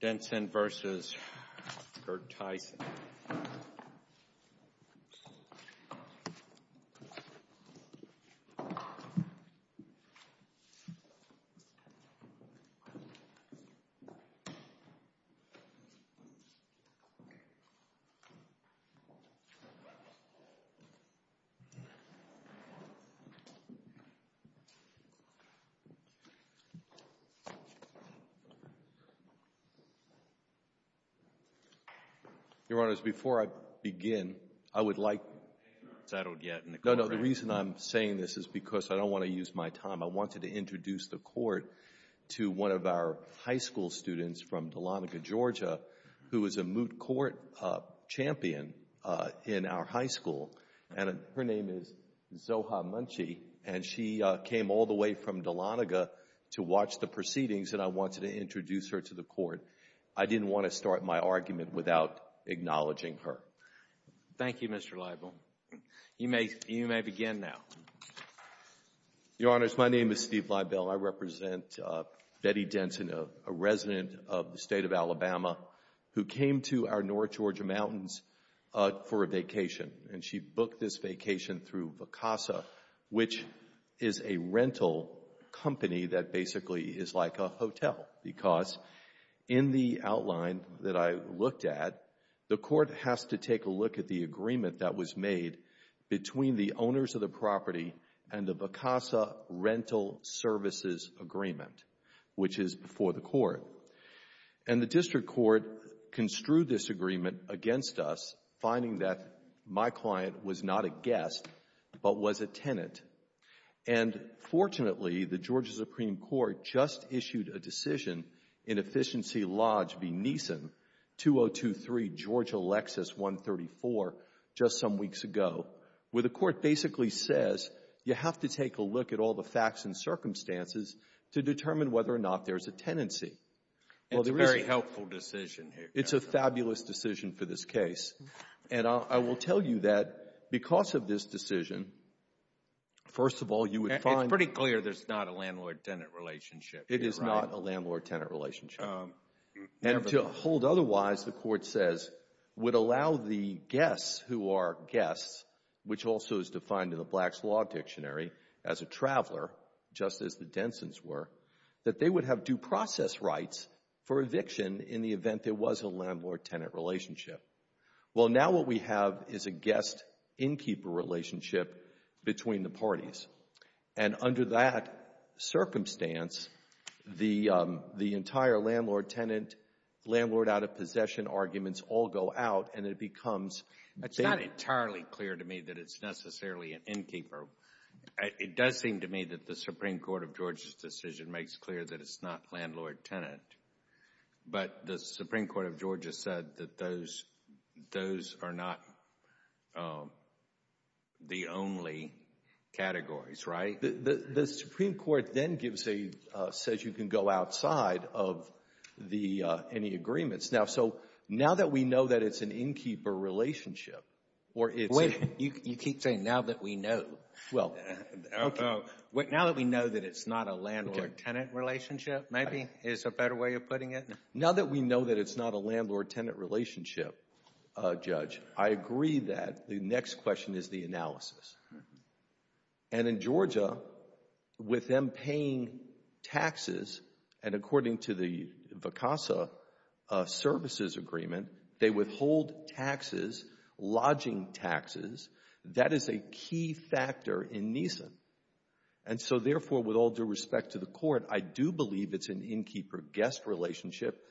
Denson v. Gerteisen Zoha Munchey v. Dahlonega, Georgia I didn't want to start my argument without acknowledging her. Roberts. Thank you, Mr. Liebel. You may begin now. Liebel. Your Honors, my name is Steve Liebel. I represent Betty Denson, a resident of the State of Alabama, who came to our north Georgia mountains for a vacation. And she booked this vacation through Vacasa, which is a rental company that basically is like a hotel, because in the outline that I looked at, the court has to take a look at the agreement that was made between the owners of the property and the Vacasa rental services agreement, which is before the court. And the district court construed this agreement against us, finding that my client was not a guest but was a tenant. And fortunately, the Georgia Supreme Court just issued a decision in Efficiency Lodge v. Neeson, 2023 Georgia Lexus 134, just some weeks ago, where the court basically says you have to take a look at all the facts and circumstances to determine whether or not there is a tenancy. Well, there is. It's a very helpful decision here. It's a fabulous decision for this case. And I will tell you that because of this decision, first of all, you would find It's pretty clear there's not a landlord-tenant relationship. It is not a landlord-tenant relationship. And to hold otherwise, the court says, would allow the guests who are guests, which also is defined in the Black's Law Dictionary as a traveler, just as the Densons were, that they would have due process rights for eviction in the event there was a landlord-tenant relationship. Well, now what we have is a guest-innkeeper relationship between the parties. And under that circumstance, the entire landlord-tenant, landlord-out-of-possession arguments all go out and it becomes It's not entirely clear to me that it's necessarily an innkeeper. It does seem to me that the Supreme Court of Georgia's decision makes clear that it's not landlord-tenant. But the Supreme Court of Georgia said that those are not the only categories, right? The Supreme Court then gives a, says you can go outside of any agreements. Now, so now that we know that it's an innkeeper relationship, or it's Wait, you keep saying now that we know. Well, now that we know that it's not a landlord-tenant relationship, maybe is a better way of putting it. Now that we know that it's not a landlord-tenant relationship, Judge, I agree that the next question is the analysis. And in Georgia, with them paying taxes, and according to the VCASA services agreement, they withhold taxes, lodging taxes. That is a key factor in Neeson. And so, therefore, with all due respect to the Court, I do believe it's an innkeeper-guest relationship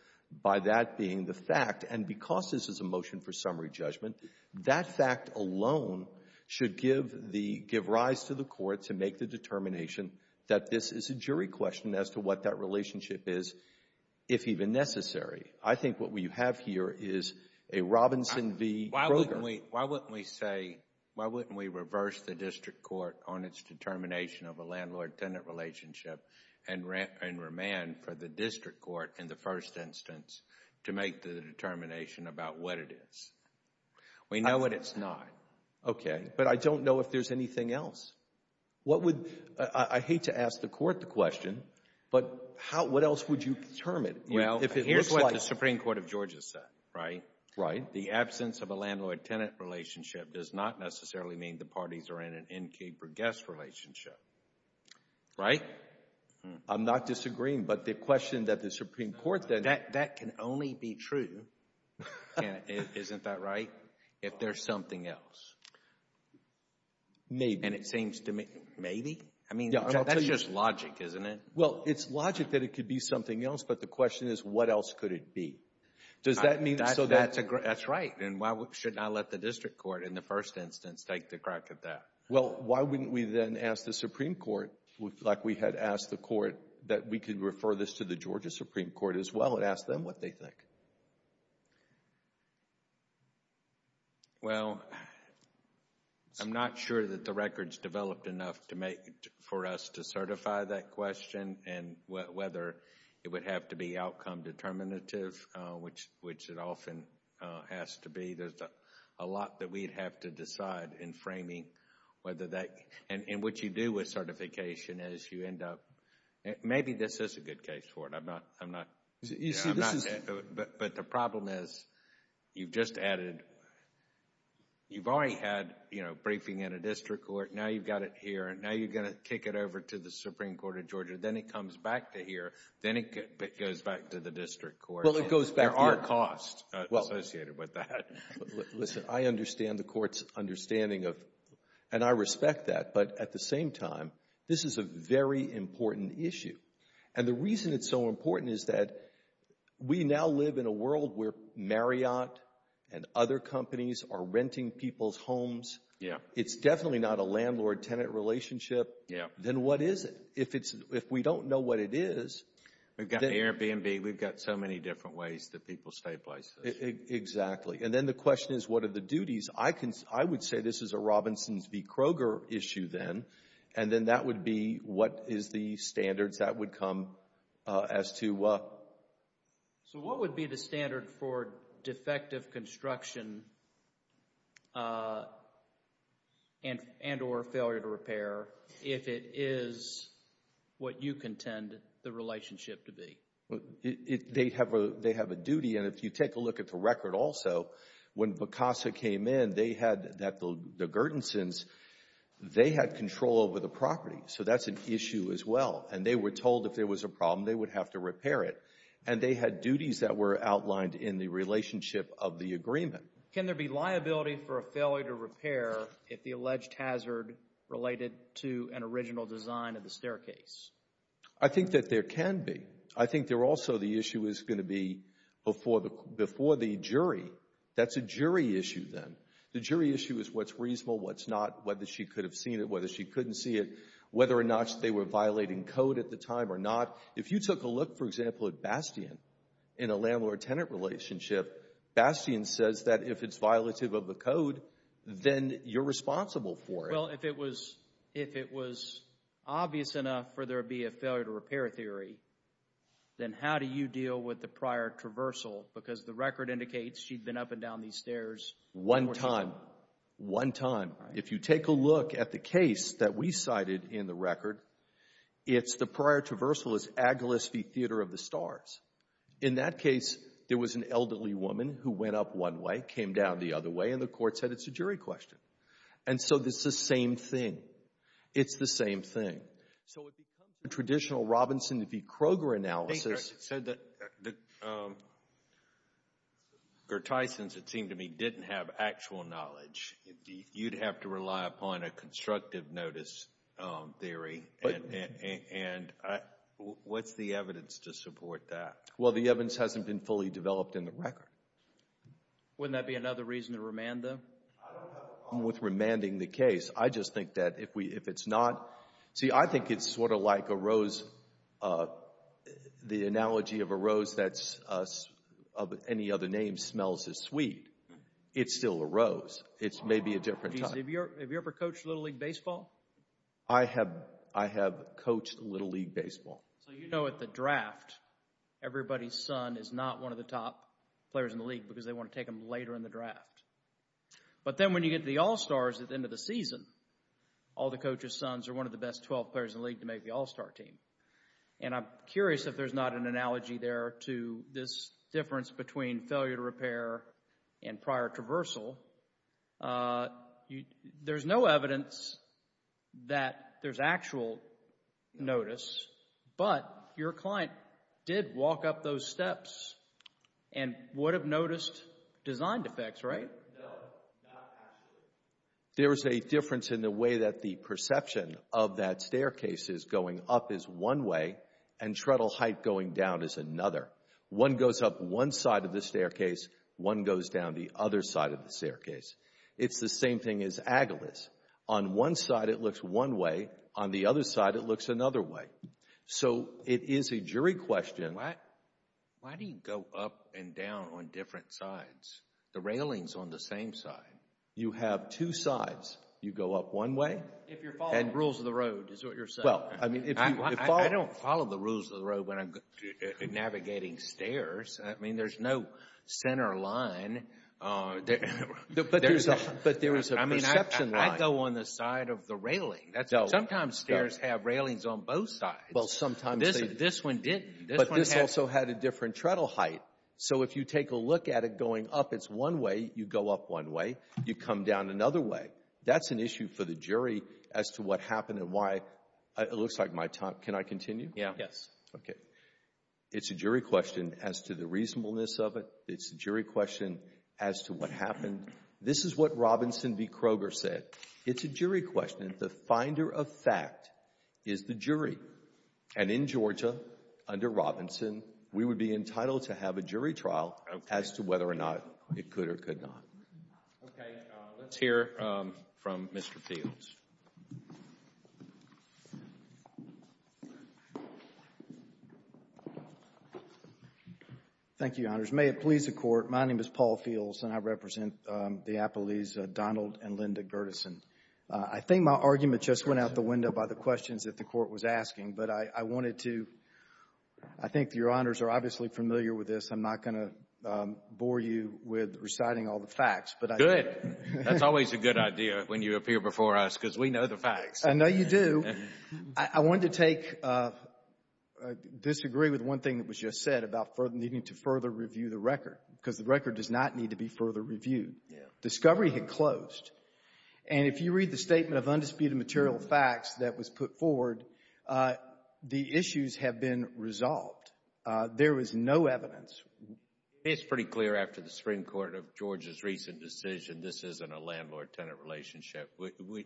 by that being the fact. And because this is a motion for summary judgment, that fact alone should give the — give rise to the Court to make the determination that this is a jury question as to what that relationship is, if even necessary. I think what we have here is a Robinson v. Kroger. Why wouldn't we say — why wouldn't we reverse the district court on its determination of a landlord-tenant relationship and remand for the district court in the first instance to make the determination about what it is? We know what it's not. Okay. But I don't know if there's anything else. What would — I hate to ask the court the question, but what else would you determine? Well, here's what the Supreme Court of Georgia said, right? Right. The absence of a landlord-tenant relationship does not necessarily mean the parties are in an innkeeper-guest relationship. Right? I'm not disagreeing, but the question that the Supreme Court then — That can only be true — isn't that right? If there's something else. Maybe. And it seems to me — maybe? I mean, that's just logic, isn't it? Well, it's logic that it could be something else, but the question is what else could it be? Does that mean — That's right. And why shouldn't I let the district court in the first instance take the crack at that? Well, why wouldn't we then ask the Supreme Court, like we had asked the court, that we could refer this to the Georgia Supreme Court as well and ask them what they think? Well, I'm not sure that the record's developed enough for us to certify that question and whether it would have to be outcome determinative, which it often has to be. There's a lot that we'd have to decide in framing whether that — and what you do with certification is you end up — maybe this is a good case for it. I'm not — You see, this is — But the problem is you've just added — you've already had, you know, briefing in a district court. Now you've got it here, and now you're going to kick it over to the Supreme Court of Georgia. Then it comes back to here. Then it goes back to the district court. Well, it goes back — There are costs associated with that. Listen, I understand the court's understanding of — and I respect that. But at the same time, this is a very important issue. And the reason it's so important is that we now live in a world where Marriott and other companies are renting people's homes. It's definitely not a landlord-tenant relationship. Then what is it? If it's — if we don't know what it is — We've got Airbnb. We've got so many different ways that people stay places. Exactly. And then the question is, what are the duties? I can — I would say this is a Robinsons v. Kroger issue then. And then that would be what is the standards that would come as to — So what would be the standard for defective construction and or failure to repair if it is what you contend the relationship to be? They have a duty. And if you take a look at the record also, when Becasa came in, they had — the Gurdonsons, they had control over the property. So that's an issue as well. And they were told if there was a problem, they would have to repair it. And they had duties that were outlined in the relationship of the agreement. Can there be liability for a failure to repair if the alleged hazard related to an original design of the staircase? I think that there can be. I think there also the issue is going to be before the jury. That's a jury issue then. The jury issue is what's reasonable, what's not, whether she could have seen it, whether she couldn't see it, whether or not they were violating code at the time or not. If you took a look, for example, at Bastian in a landlord-tenant relationship, Bastian says that if it's violative of the code, then you're responsible for it. Well, if it was obvious enough for there to be a failure to repair theory, then how do you deal with the prior traversal? Because the record indicates she'd been up and down these stairs. One time. One time. If you take a look at the case that we cited in the record, it's the prior traversal is Agilis v. Theater of the Stars. In that case, there was an elderly woman who went up one way, came down the other way, and the court said it's a jury question. And so it's the same thing. It's the same thing. So it becomes the traditional Robinson v. Kroger analysis. It said that Gertizen's, it seemed to me, didn't have actual knowledge. You'd have to rely upon a constructive notice theory. And what's the evidence to support that? Well, the evidence hasn't been fully developed in the record. Wouldn't that be another reason to remand them? I don't have a problem with remanding the case. I just think that if it's not, see, I think it's sort of like a rose, the analogy of a rose that's of any other name smells as sweet. It's still a rose. It's maybe a different type. Have you ever coached Little League baseball? I have coached Little League baseball. So you know at the draft, everybody's son is not one of the top players in the league because they want to take him later in the draft. But then when you get to the All-Stars at the end of the season, all the coaches' sons are one of the best 12 players in the league to make the All-Star team. And I'm curious if there's not an analogy there to this difference between failure to repair and prior traversal. There's no evidence that there's actual notice, but your client did walk up those steps and would have noticed design defects, right? No, not actually. There is a difference in the way that the perception of that staircase is going up is one way and treadle height going down is another. One goes up one side of the staircase. One goes down the other side of the staircase. It's the same thing as agilis. On one side, it looks one way. On the other side, it looks another way. So it is a jury question. Why do you go up and down on different sides? The railing's on the same side. You have two sides. You go up one way. If you're following the rules of the road, is what you're saying. I don't follow the rules of the road when I'm navigating stairs. I mean, there's no center line. But there is a perception line. I mean, I go on the side of the railing. Sometimes stairs have railings on both sides. Well, sometimes they do. This one didn't. But this also had a different treadle height. So if you take a look at it going up, it's one way. You go up one way. You come down another way. That's an issue for the jury as to what happened and why. It looks like my time. Can I continue? Yes. Okay. It's a jury question as to the reasonableness of it. It's a jury question as to what happened. This is what Robinson v. Kroger said. It's a jury question. The finder of fact is the jury. And in Georgia, under Robinson, we would be entitled to have a jury trial as to whether or not it could or could not. Okay. Let's hear from Mr. Fields. Thank you, Your Honors. May it please the Court, my name is Paul Fields, and I represent the appellees Donald and Linda Gerdeson. I think my argument just went out the window by the questions that the Court was asking. But I wanted to ‑‑ I think Your Honors are obviously familiar with this. I'm not going to bore you with reciting all the facts. Good. That's always a good idea when you appear before us because we know the facts. I know you do. I wanted to take ‑‑ disagree with one thing that was just said about needing to further review the record because the record does not need to be further reviewed. Discovery had closed. And if you read the statement of undisputed material facts that was put forward, the issues have been resolved. There is no evidence. It's pretty clear after the Supreme Court of Georgia's recent decision this isn't a landlord‑tenant relationship.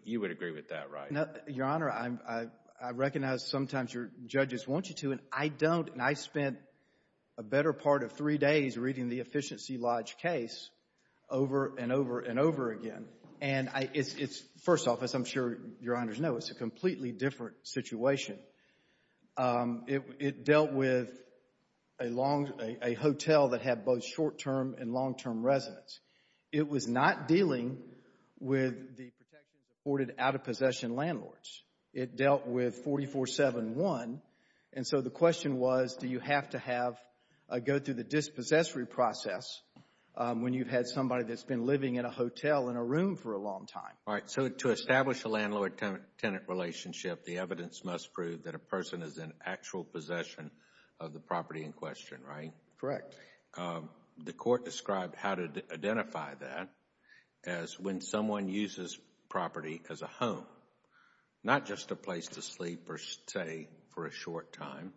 You would agree with that, right? Your Honor, I recognize sometimes your judges want you to, and I don't. And I spent a better part of three days reading the Efficiency Lodge case over and over and over again. And it's, first off, as I'm sure Your Honors know, it's a completely different situation. It dealt with a hotel that had both short‑term and long‑term residents. It was not dealing with the protections afforded out-of-possession landlords. It dealt with 4471. And so the question was, do you have to go through the dispossessory process when you've had somebody that's been living in a hotel in a room for a long time? All right, so to establish a landlord‑tenant relationship, the evidence must prove that a person is in actual possession of the property in question, right? Correct. The court described how to identify that as when someone uses property as a home, not just a place to sleep or stay for a short time.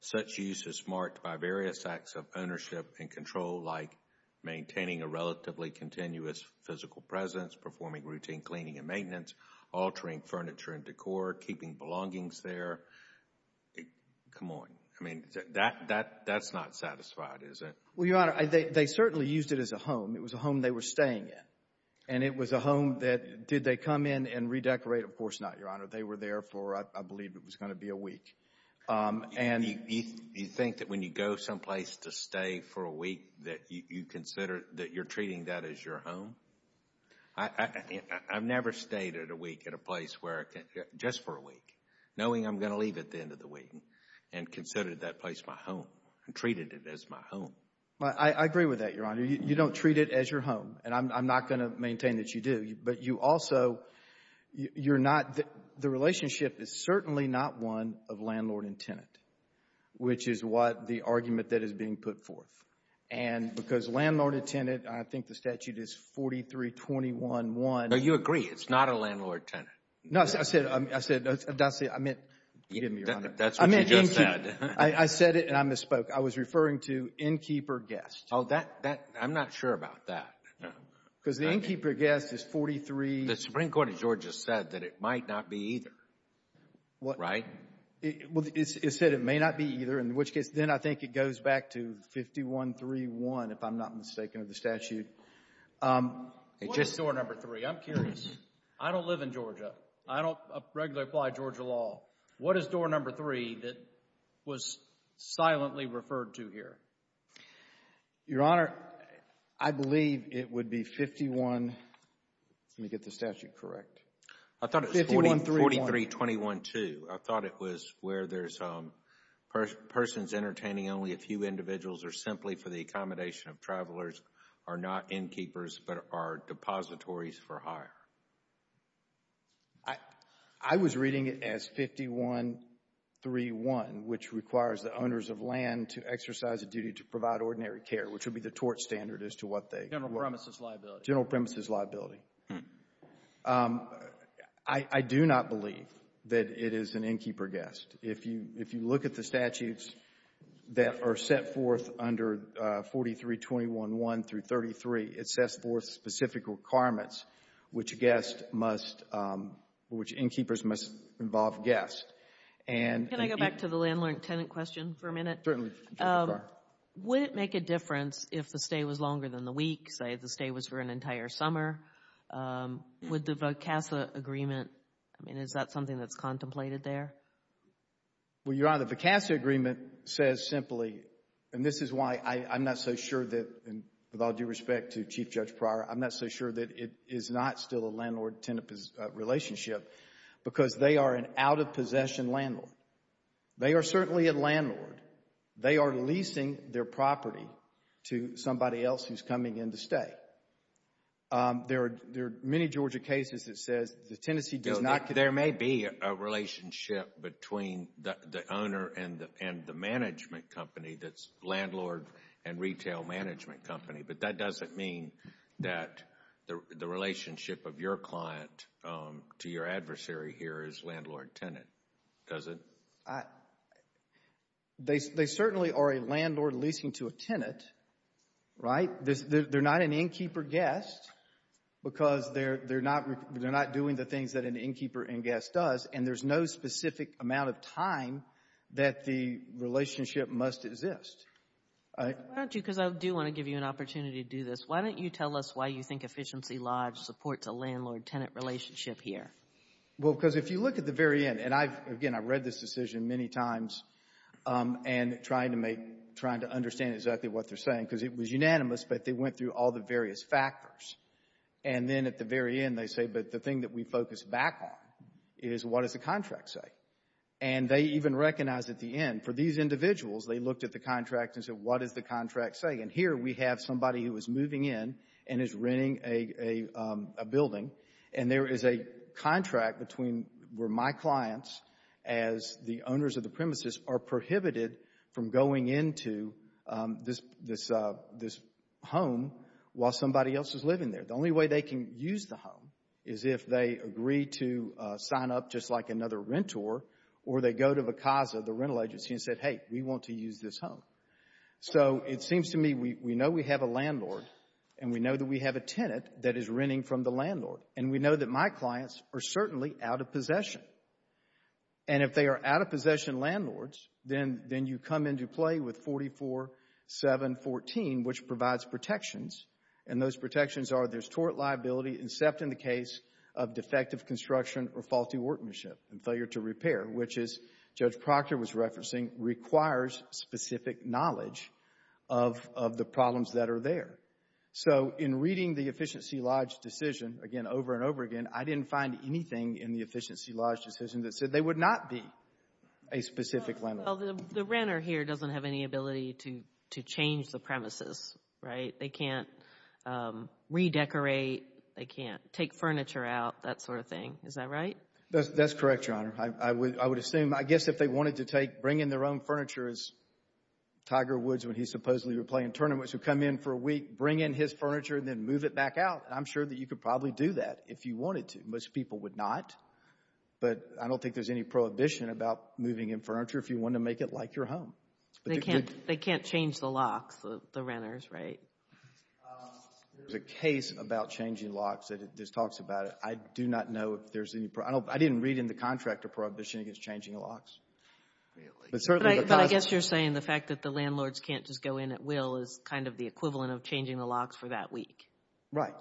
Such use is marked by various acts of ownership and control, like maintaining a relatively continuous physical presence, performing routine cleaning and maintenance, altering furniture and decor, keeping belongings there. Come on. I mean, that's not satisfied, is it? Well, Your Honor, they certainly used it as a home. It was a home they were staying in. And it was a home that, did they come in and redecorate? Of course not, Your Honor. They were there for, I believe it was going to be a week. You think that when you go someplace to stay for a week that you consider that you're treating that as your home? I've never stayed at a week at a place where, just for a week, knowing I'm going to leave at the end of the week, and considered that place my home and treated it as my home. I agree with that, Your Honor. You don't treat it as your home, and I'm not going to maintain that you do. But you also, you're not, the relationship is certainly not one of landlord and tenant, which is what the argument that is being put forth. And because landlord and tenant, I think the statute is 43-21-1. No, you agree. It's not a landlord-tenant. No, I said, I meant, forgive me, Your Honor. That's what you just said. I meant innkeeper. I said it and I misspoke. I was referring to innkeeper guest. Oh, that, I'm not sure about that. Because the innkeeper guest is 43. The Supreme Court of Georgia said that it might not be either, right? Well, it said it may not be either, in which case, then I think it goes back to 51-3-1, if I'm not mistaken, of the statute. What is door number three? I'm curious. I don't live in Georgia. I don't regularly apply Georgia law. What is door number three that was silently referred to here? Your Honor, I believe it would be 51, let me get the statute correct. I thought it was 43-21-2. I thought it was where there's persons entertaining only a few individuals or simply for the accommodation of travelers are not innkeepers but are depositories for hire. I was reading it as 51-3-1, which requires the owners of land to exercise a duty to provide ordinary care, which would be the tort standard as to what they. General premises liability. General premises liability. I do not believe that it is an innkeeper guest. If you look at the statutes that are set forth under 43-21-1 through 33, it sets forth specific requirements which guests must, which innkeepers must involve guests. Can I go back to the landlord-tenant question for a minute? Certainly. Would it make a difference if the stay was longer than the week, say the stay was for an entire summer? Would the VOCASA agreement, I mean, is that something that's contemplated there? Well, Your Honor, the VOCASA agreement says simply, and this is why I'm not so sure that, with all due respect to Chief Judge Pryor, I'm not so sure that it is not still a landlord-tenant relationship because they are an out-of-possession landlord. They are certainly a landlord. They are leasing their property to somebody else who's coming in to stay. There are many Georgia cases that says the tenancy does not get a property. There may be a relationship between the owner and the management company that's landlord and retail management company, but that doesn't mean that the relationship of your client to your adversary here is landlord-tenant, does it? They certainly are a landlord leasing to a tenant, right? They're not an innkeeper-guest because they're not doing the things that an innkeeper-guest does, and there's no specific amount of time that the relationship must exist. Why don't you, because I do want to give you an opportunity to do this, why don't you tell us why you think Efficiency Lodge supports a landlord-tenant relationship here? Well, because if you look at the very end, and again, I've read this decision many times and trying to understand exactly what they're saying because it was unanimous, but they went through all the various factors, and then at the very end they say, but the thing that we focus back on is what does the contract say? And they even recognize at the end, for these individuals, they looked at the contract and said, what does the contract say? And here we have somebody who is moving in and is renting a building, and there is a contract where my clients, as the owners of the premises, are prohibited from going into this home while somebody else is living there. The only way they can use the home is if they agree to sign up just like another renter or they go to VCASA, the rental agency, and say, hey, we want to use this home. So it seems to me we know we have a landlord and we know that we have a tenant that is renting from the landlord, and we know that my clients are certainly out of possession. And if they are out of possession landlords, then you come into play with 44-714, which provides protections, and those protections are there's tort liability except in the case of defective construction or faulty workmanship and failure to repair, which, as Judge Proctor was referencing, requires specific knowledge of the problems that are there. So in reading the Efficiency Lodge decision, again, over and over again, I didn't find anything in the Efficiency Lodge decision that said they would not be a specific landlord. Well, the renter here doesn't have any ability to change the premises, right? They can't redecorate. They can't take furniture out, that sort of thing. Is that right? That's correct, Your Honor. I would assume, I guess if they wanted to bring in their own furniture, as Tiger Woods, when he supposedly would play in tournaments, would come in for a week, bring in his furniture, and then move it back out, I'm sure that you could probably do that if you wanted to. Most people would not. But I don't think there's any prohibition about moving in furniture if you want to make it like your home. They can't change the locks, the renters, right? There's a case about changing locks that talks about it. I do not know if there's any prohibition. I didn't read in the contractor prohibition against changing locks. Really? But I guess you're saying the fact that the landlords can't just go in at will is kind of the equivalent of changing the locks for that week. Right.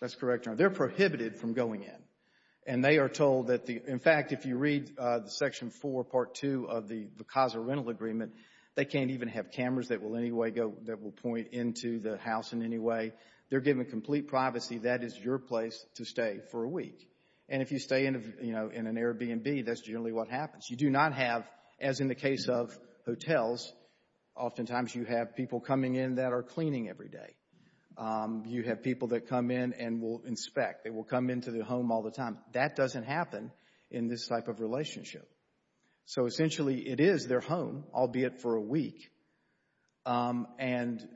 That's correct, Your Honor. They're prohibited from going in. And they are told that, in fact, if you read Section 4, Part 2, of the VCASA rental agreement, they can't even have cameras that will point into the house in any way. They're given complete privacy. That is your place to stay for a week. And if you stay in an Airbnb, that's generally what happens. You do not have, as in the case of hotels, oftentimes you have people coming in that are cleaning every day. You have people that come in and will inspect. They will come into the home all the time. That doesn't happen in this type of relationship. So, essentially, it is their home, albeit for a week, and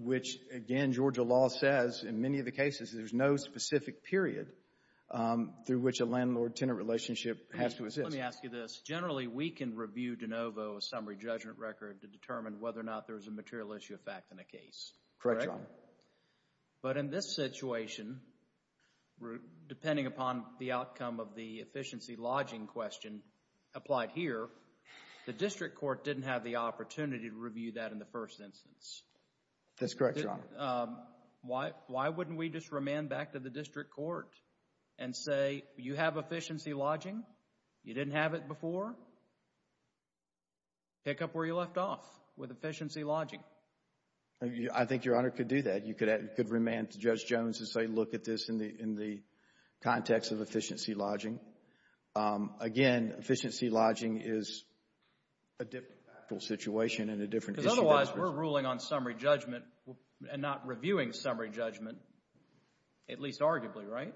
which, again, Georgia law says in many of the cases there's no specific period through which a landlord-tenant relationship has to exist. Let me ask you this. Generally, we can review de novo a summary judgment record to determine whether or not there's a material issue of fact in a case. Correct, Your Honor. But in this situation, depending upon the outcome of the efficiency lodging question applied here, the district court didn't have the opportunity to review that in the first instance. That's correct, Your Honor. Why wouldn't we just remand back to the district court and say you have efficiency lodging, you didn't have it before, pick up where you left off with efficiency lodging? I think Your Honor could do that. You could remand to Judge Jones and say, look at this in the context of efficiency lodging. Again, efficiency lodging is a different factual situation and a different issue. Because otherwise we're ruling on summary judgment and not reviewing summary judgment, at least arguably, right?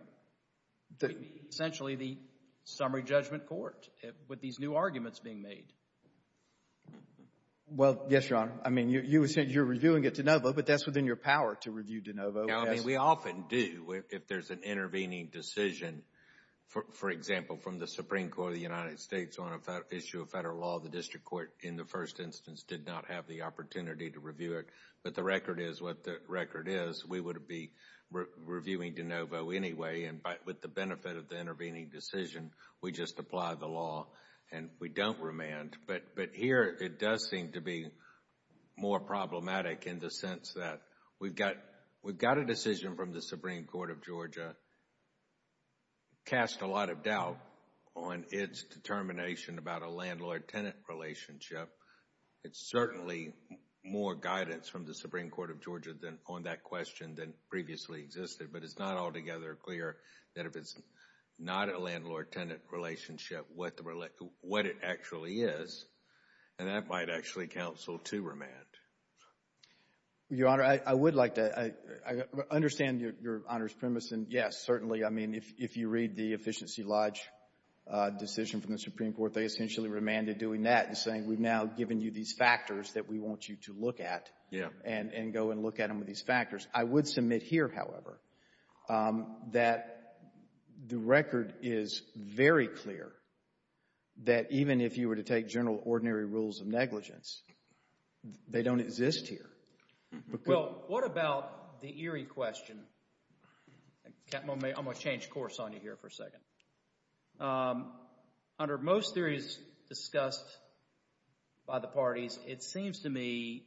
Essentially the summary judgment court with these new arguments being made. Well, yes, Your Honor. I mean, you said you're reviewing it de novo, but that's within your power to review de novo. We often do if there's an intervening decision, for example, from the Supreme Court of the United States on an issue of federal law, the district court in the first instance did not have the opportunity to review it. But the record is what the record is. We would be reviewing de novo anyway, and with the benefit of the intervening decision, we just apply the law and we don't remand. But here it does seem to be more problematic in the sense that we've got a decision from the Supreme Court of Georgia cast a lot of doubt on its determination about a landlord-tenant relationship. It's certainly more guidance from the Supreme Court of Georgia on that question than previously existed, but it's not altogether clear that if it's not a landlord-tenant relationship, what it actually is, and that might actually counsel to remand. Your Honor, I would like to understand Your Honor's premise, and yes, certainly, I mean, if you read the Efficiency Lodge decision from the Supreme Court, they essentially remanded doing that and saying we've now given you these factors that we want you to look at and go and look at them with these factors. I would submit here, however, that the record is very clear that even if you were to take general ordinary rules of negligence, they don't exist here. Well, what about the eerie question? I'm going to change course on you here for a second. Under most theories discussed by the parties, it seems to me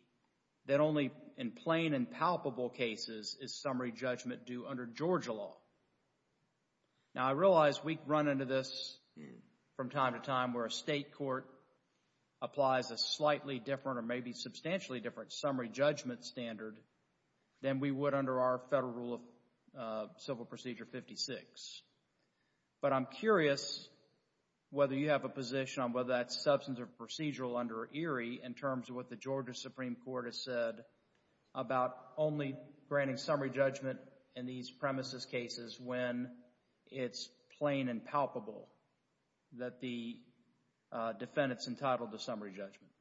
that only in plain and palpable cases is summary judgment due under Georgia law. Now, I realize we run into this from time to time where a state court applies a slightly different or maybe substantially different summary judgment standard than we would under our Federal Rule of Civil Procedure 56, but I'm curious whether you have a position on whether that's substantive or procedural under eerie in terms of what the Georgia Supreme Court has said about only granting summary judgment in these premises cases when it's plain and palpable that the defendant's entitled to summary judgment.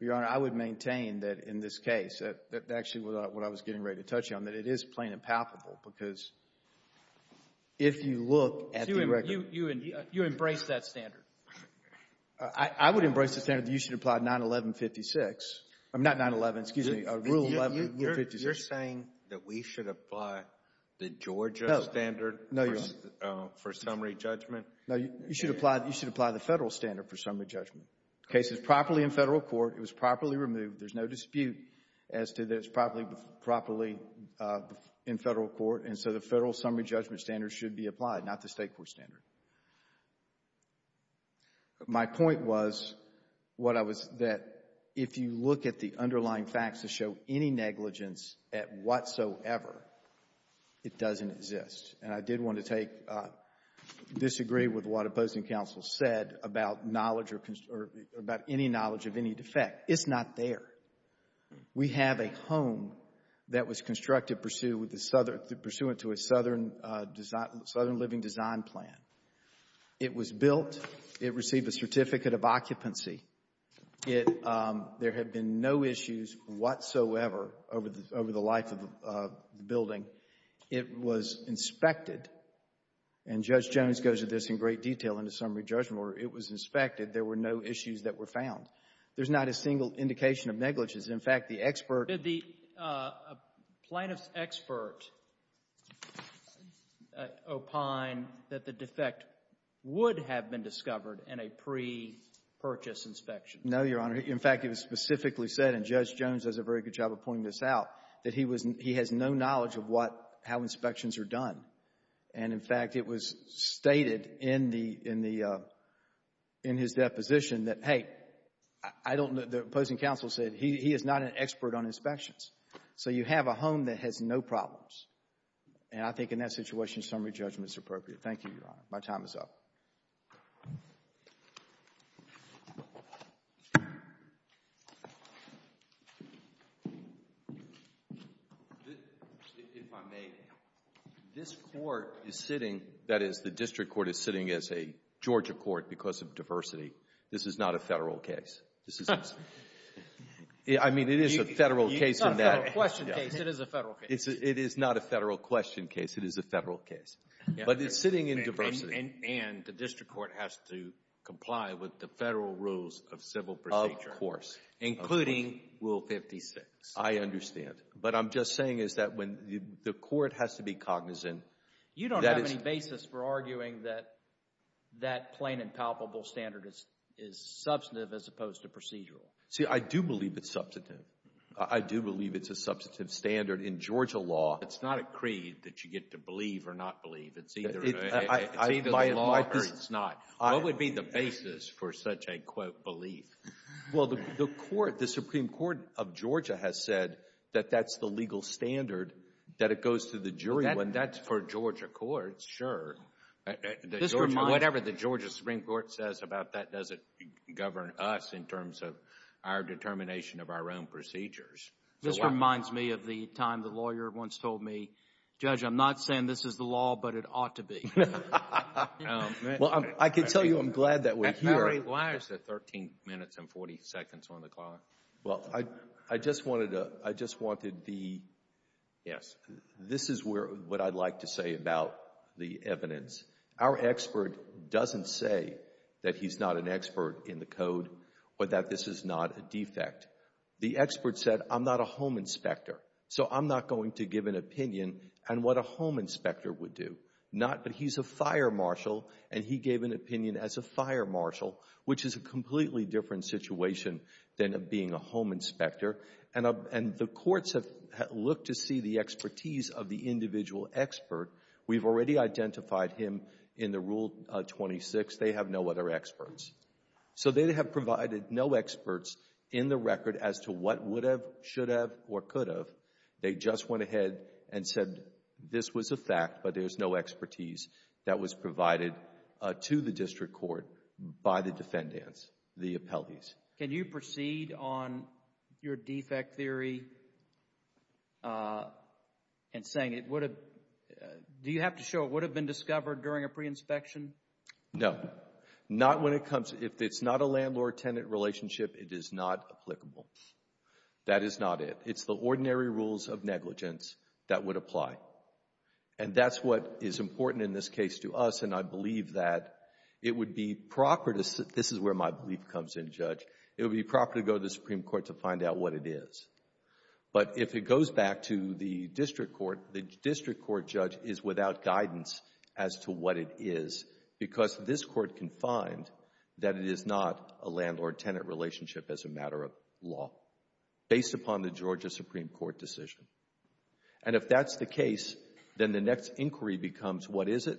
Your Honor, I would maintain that in this case, actually what I was getting ready to touch on, that it is plain and palpable because if you look at the record. So you embrace that standard? I would embrace the standard that you should apply 9-11-56. I mean, not 9-11, excuse me, Rule 11-56. You're saying that we should apply the Georgia standard for summary judgment? No, you should apply the Federal standard for summary judgment. The case is properly in Federal court. It was properly removed. There's no dispute as to that it's properly in Federal court, and so the Federal summary judgment standard should be applied, not the state court standard. My point was that if you look at the underlying facts to show any negligence at whatsoever, it doesn't exist. And I did want to disagree with what opposing counsel said about any knowledge of any defect. It's not there. We have a home that was constructed pursuant to a Southern Living Design Plan. It was built. It received a certificate of occupancy. There have been no issues whatsoever over the life of the building. It was inspected, and Judge Jones goes into this in great detail in the summary judgment order. It was inspected. There were no issues that were found. There's not a single indication of negligence. In fact, the expert… Did the plaintiff's expert opine that the defect would have been discovered in a pre-purchase inspection? No, Your Honor. In fact, it was specifically said, and Judge Jones does a very good job of pointing this out, that he was — he has no knowledge of what — how inspections are done. And, in fact, it was stated in the — in the — in his deposition that, hey, I don't — the opposing counsel said he is not an expert on inspections. So you have a home that has no problems. And I think in that situation, summary judgment is appropriate. Thank you, Your Honor. My time is up. If I may, this court is sitting — that is, the district court is sitting as a Georgia court because of diversity. This is not a federal case. This is — I mean, it is a federal case. It's not a federal question case. It is a federal case. It is not a federal question case. It is a federal case. But it's sitting in diversity. And the district court has to comply with the federal rules of civil procedure. Of course. Including Rule 56. I understand. But I'm just saying is that when the court has to be cognizant — You don't have any basis for arguing that that plain and palpable standard is substantive as opposed to procedural. See, I do believe it's substantive. I do believe it's a substantive standard in Georgia law. It's not a creed that you get to believe or not believe. It's either the law or it's not. What would be the basis for such a, quote, belief? Well, the court, the Supreme Court of Georgia has said that that's the legal standard, that it goes to the jury. That's for Georgia courts, sure. Whatever the Georgia Supreme Court says about that doesn't govern us in terms of our determination of our own procedures. This reminds me of the time the lawyer once told me, Judge, I'm not saying this is the law, but it ought to be. Well, I can tell you I'm glad that we're here. Why is it 13 minutes and 40 seconds on the clock? Well, I just wanted the — Yes. This is what I'd like to say about the evidence. Our expert doesn't say that he's not an expert in the code or that this is not a defect. The expert said, I'm not a home inspector, so I'm not going to give an opinion on what a home inspector would do. Not that he's a fire marshal, and he gave an opinion as a fire marshal, which is a completely different situation than being a home inspector. And the courts have looked to see the expertise of the individual expert. We've already identified him in the Rule 26. They have no other experts. So they have provided no experts in the record as to what would have, should have, or could have. They just went ahead and said this was a fact, but there's no expertise that was provided to the district court by the defendants, the appellees. Can you proceed on your defect theory and saying it would have — do you have to show it would have been discovered during a pre-inspection? No. Not when it comes — if it's not a landlord-tenant relationship, it is not applicable. That is not it. It's the ordinary rules of negligence that would apply. And that's what is important in this case to us, and I believe that it would be proper to — this is where my belief comes in, Judge. It would be proper to go to the Supreme Court to find out what it is. But if it goes back to the district court, the district court judge is without guidance as to what it is because this court can find that it is not a landlord-tenant relationship as a matter of law, based upon the Georgia Supreme Court decision. And if that's the case, then the next inquiry becomes what is it.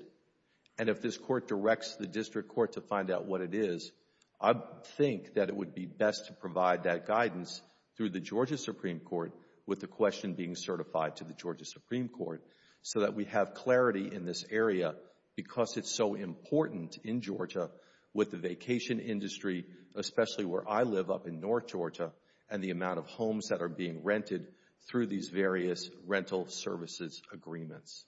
And if this court directs the district court to find out what it is, I think that it would be best to provide that guidance through the Georgia Supreme Court with the question being certified to the Georgia Supreme Court so that we have clarity in this area because it's so important in Georgia with the vacation industry, especially where I live up in north Georgia, and the amount of homes that are being rented through these various rental services agreements.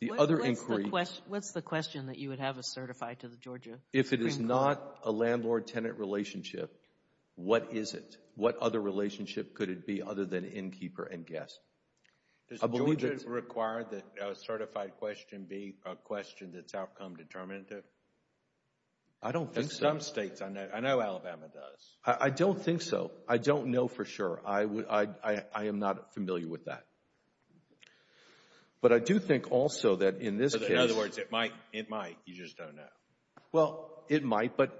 The other inquiry — What's the question that you would have us certify to the Georgia Supreme Court? If it is not a landlord-tenant relationship, what is it? What other relationship could it be other than innkeeper and guest? Does Georgia require that a certified question be a question that's outcome determinative? I don't think so. In some states, I know Alabama does. I don't think so. I don't know for sure. I am not familiar with that. But I do think also that in this case — In other words, it might. You just don't know. Well, it might, but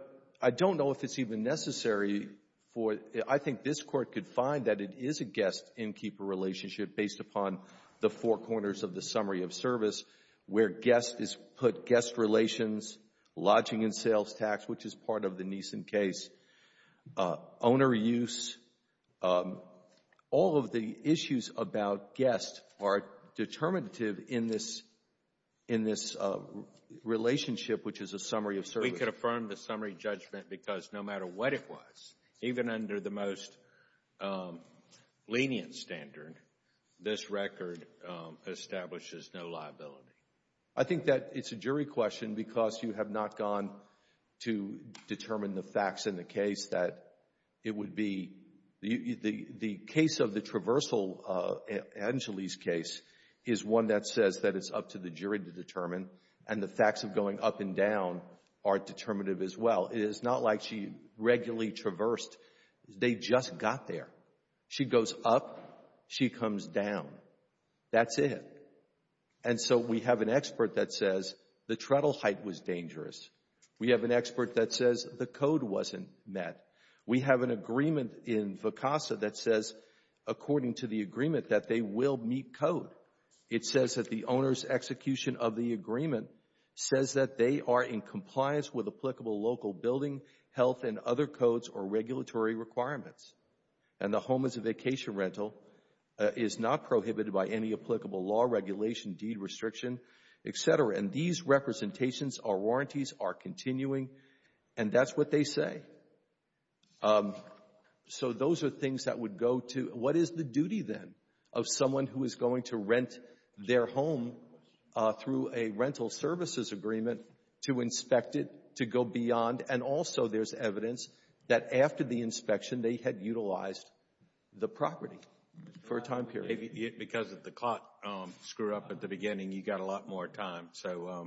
I don't know if it's even necessary for — I think this Court could find that it is a guest-innkeeper relationship based upon the four corners of the summary of service where guest is put guest relations, lodging and sales tax, which is part of the Neeson case, owner use. All of the issues about guest are determinative in this — in this relationship, which is a summary of service. We could affirm the summary judgment because no matter what it was, even under the most lenient standard, this record establishes no liability. I think that it's a jury question because you have not gone to determine the facts in the case that it would be — the case of the traversal, Anjali's case, is one that says that it's up to the jury to determine, and the facts of going up and down are determinative as well. It is not like she regularly traversed. They just got there. She goes up, she comes down. That's it. And so we have an expert that says the treadle height was dangerous. We have an expert that says the code wasn't met. We have an agreement in VCASA that says, according to the agreement, that they will meet code. It says that the owner's execution of the agreement says that they are in compliance with applicable local building, health, and other codes or regulatory requirements, and the home as a vacation rental is not prohibited by any applicable law, regulation, deed restriction, et cetera. And these representations or warranties are continuing, and that's what they say. So those are things that would go to — What is the duty then of someone who is going to rent their home through a rental services agreement to inspect it, to go beyond? And also there's evidence that after the inspection, they had utilized the property for a time period. Because of the cot screw-up at the beginning, you got a lot more time.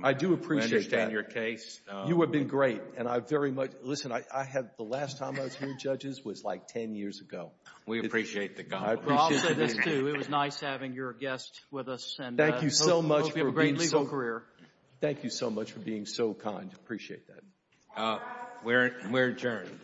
I do appreciate that. I understand your case. You have been great, and I very much — Listen, the last time I was here, judges, was like 10 years ago. We appreciate the compliment. Well, I'll say this, too. It was nice having your guest with us, and hope you have a great legal career. Thank you so much for being so kind. Appreciate that. We're adjourned.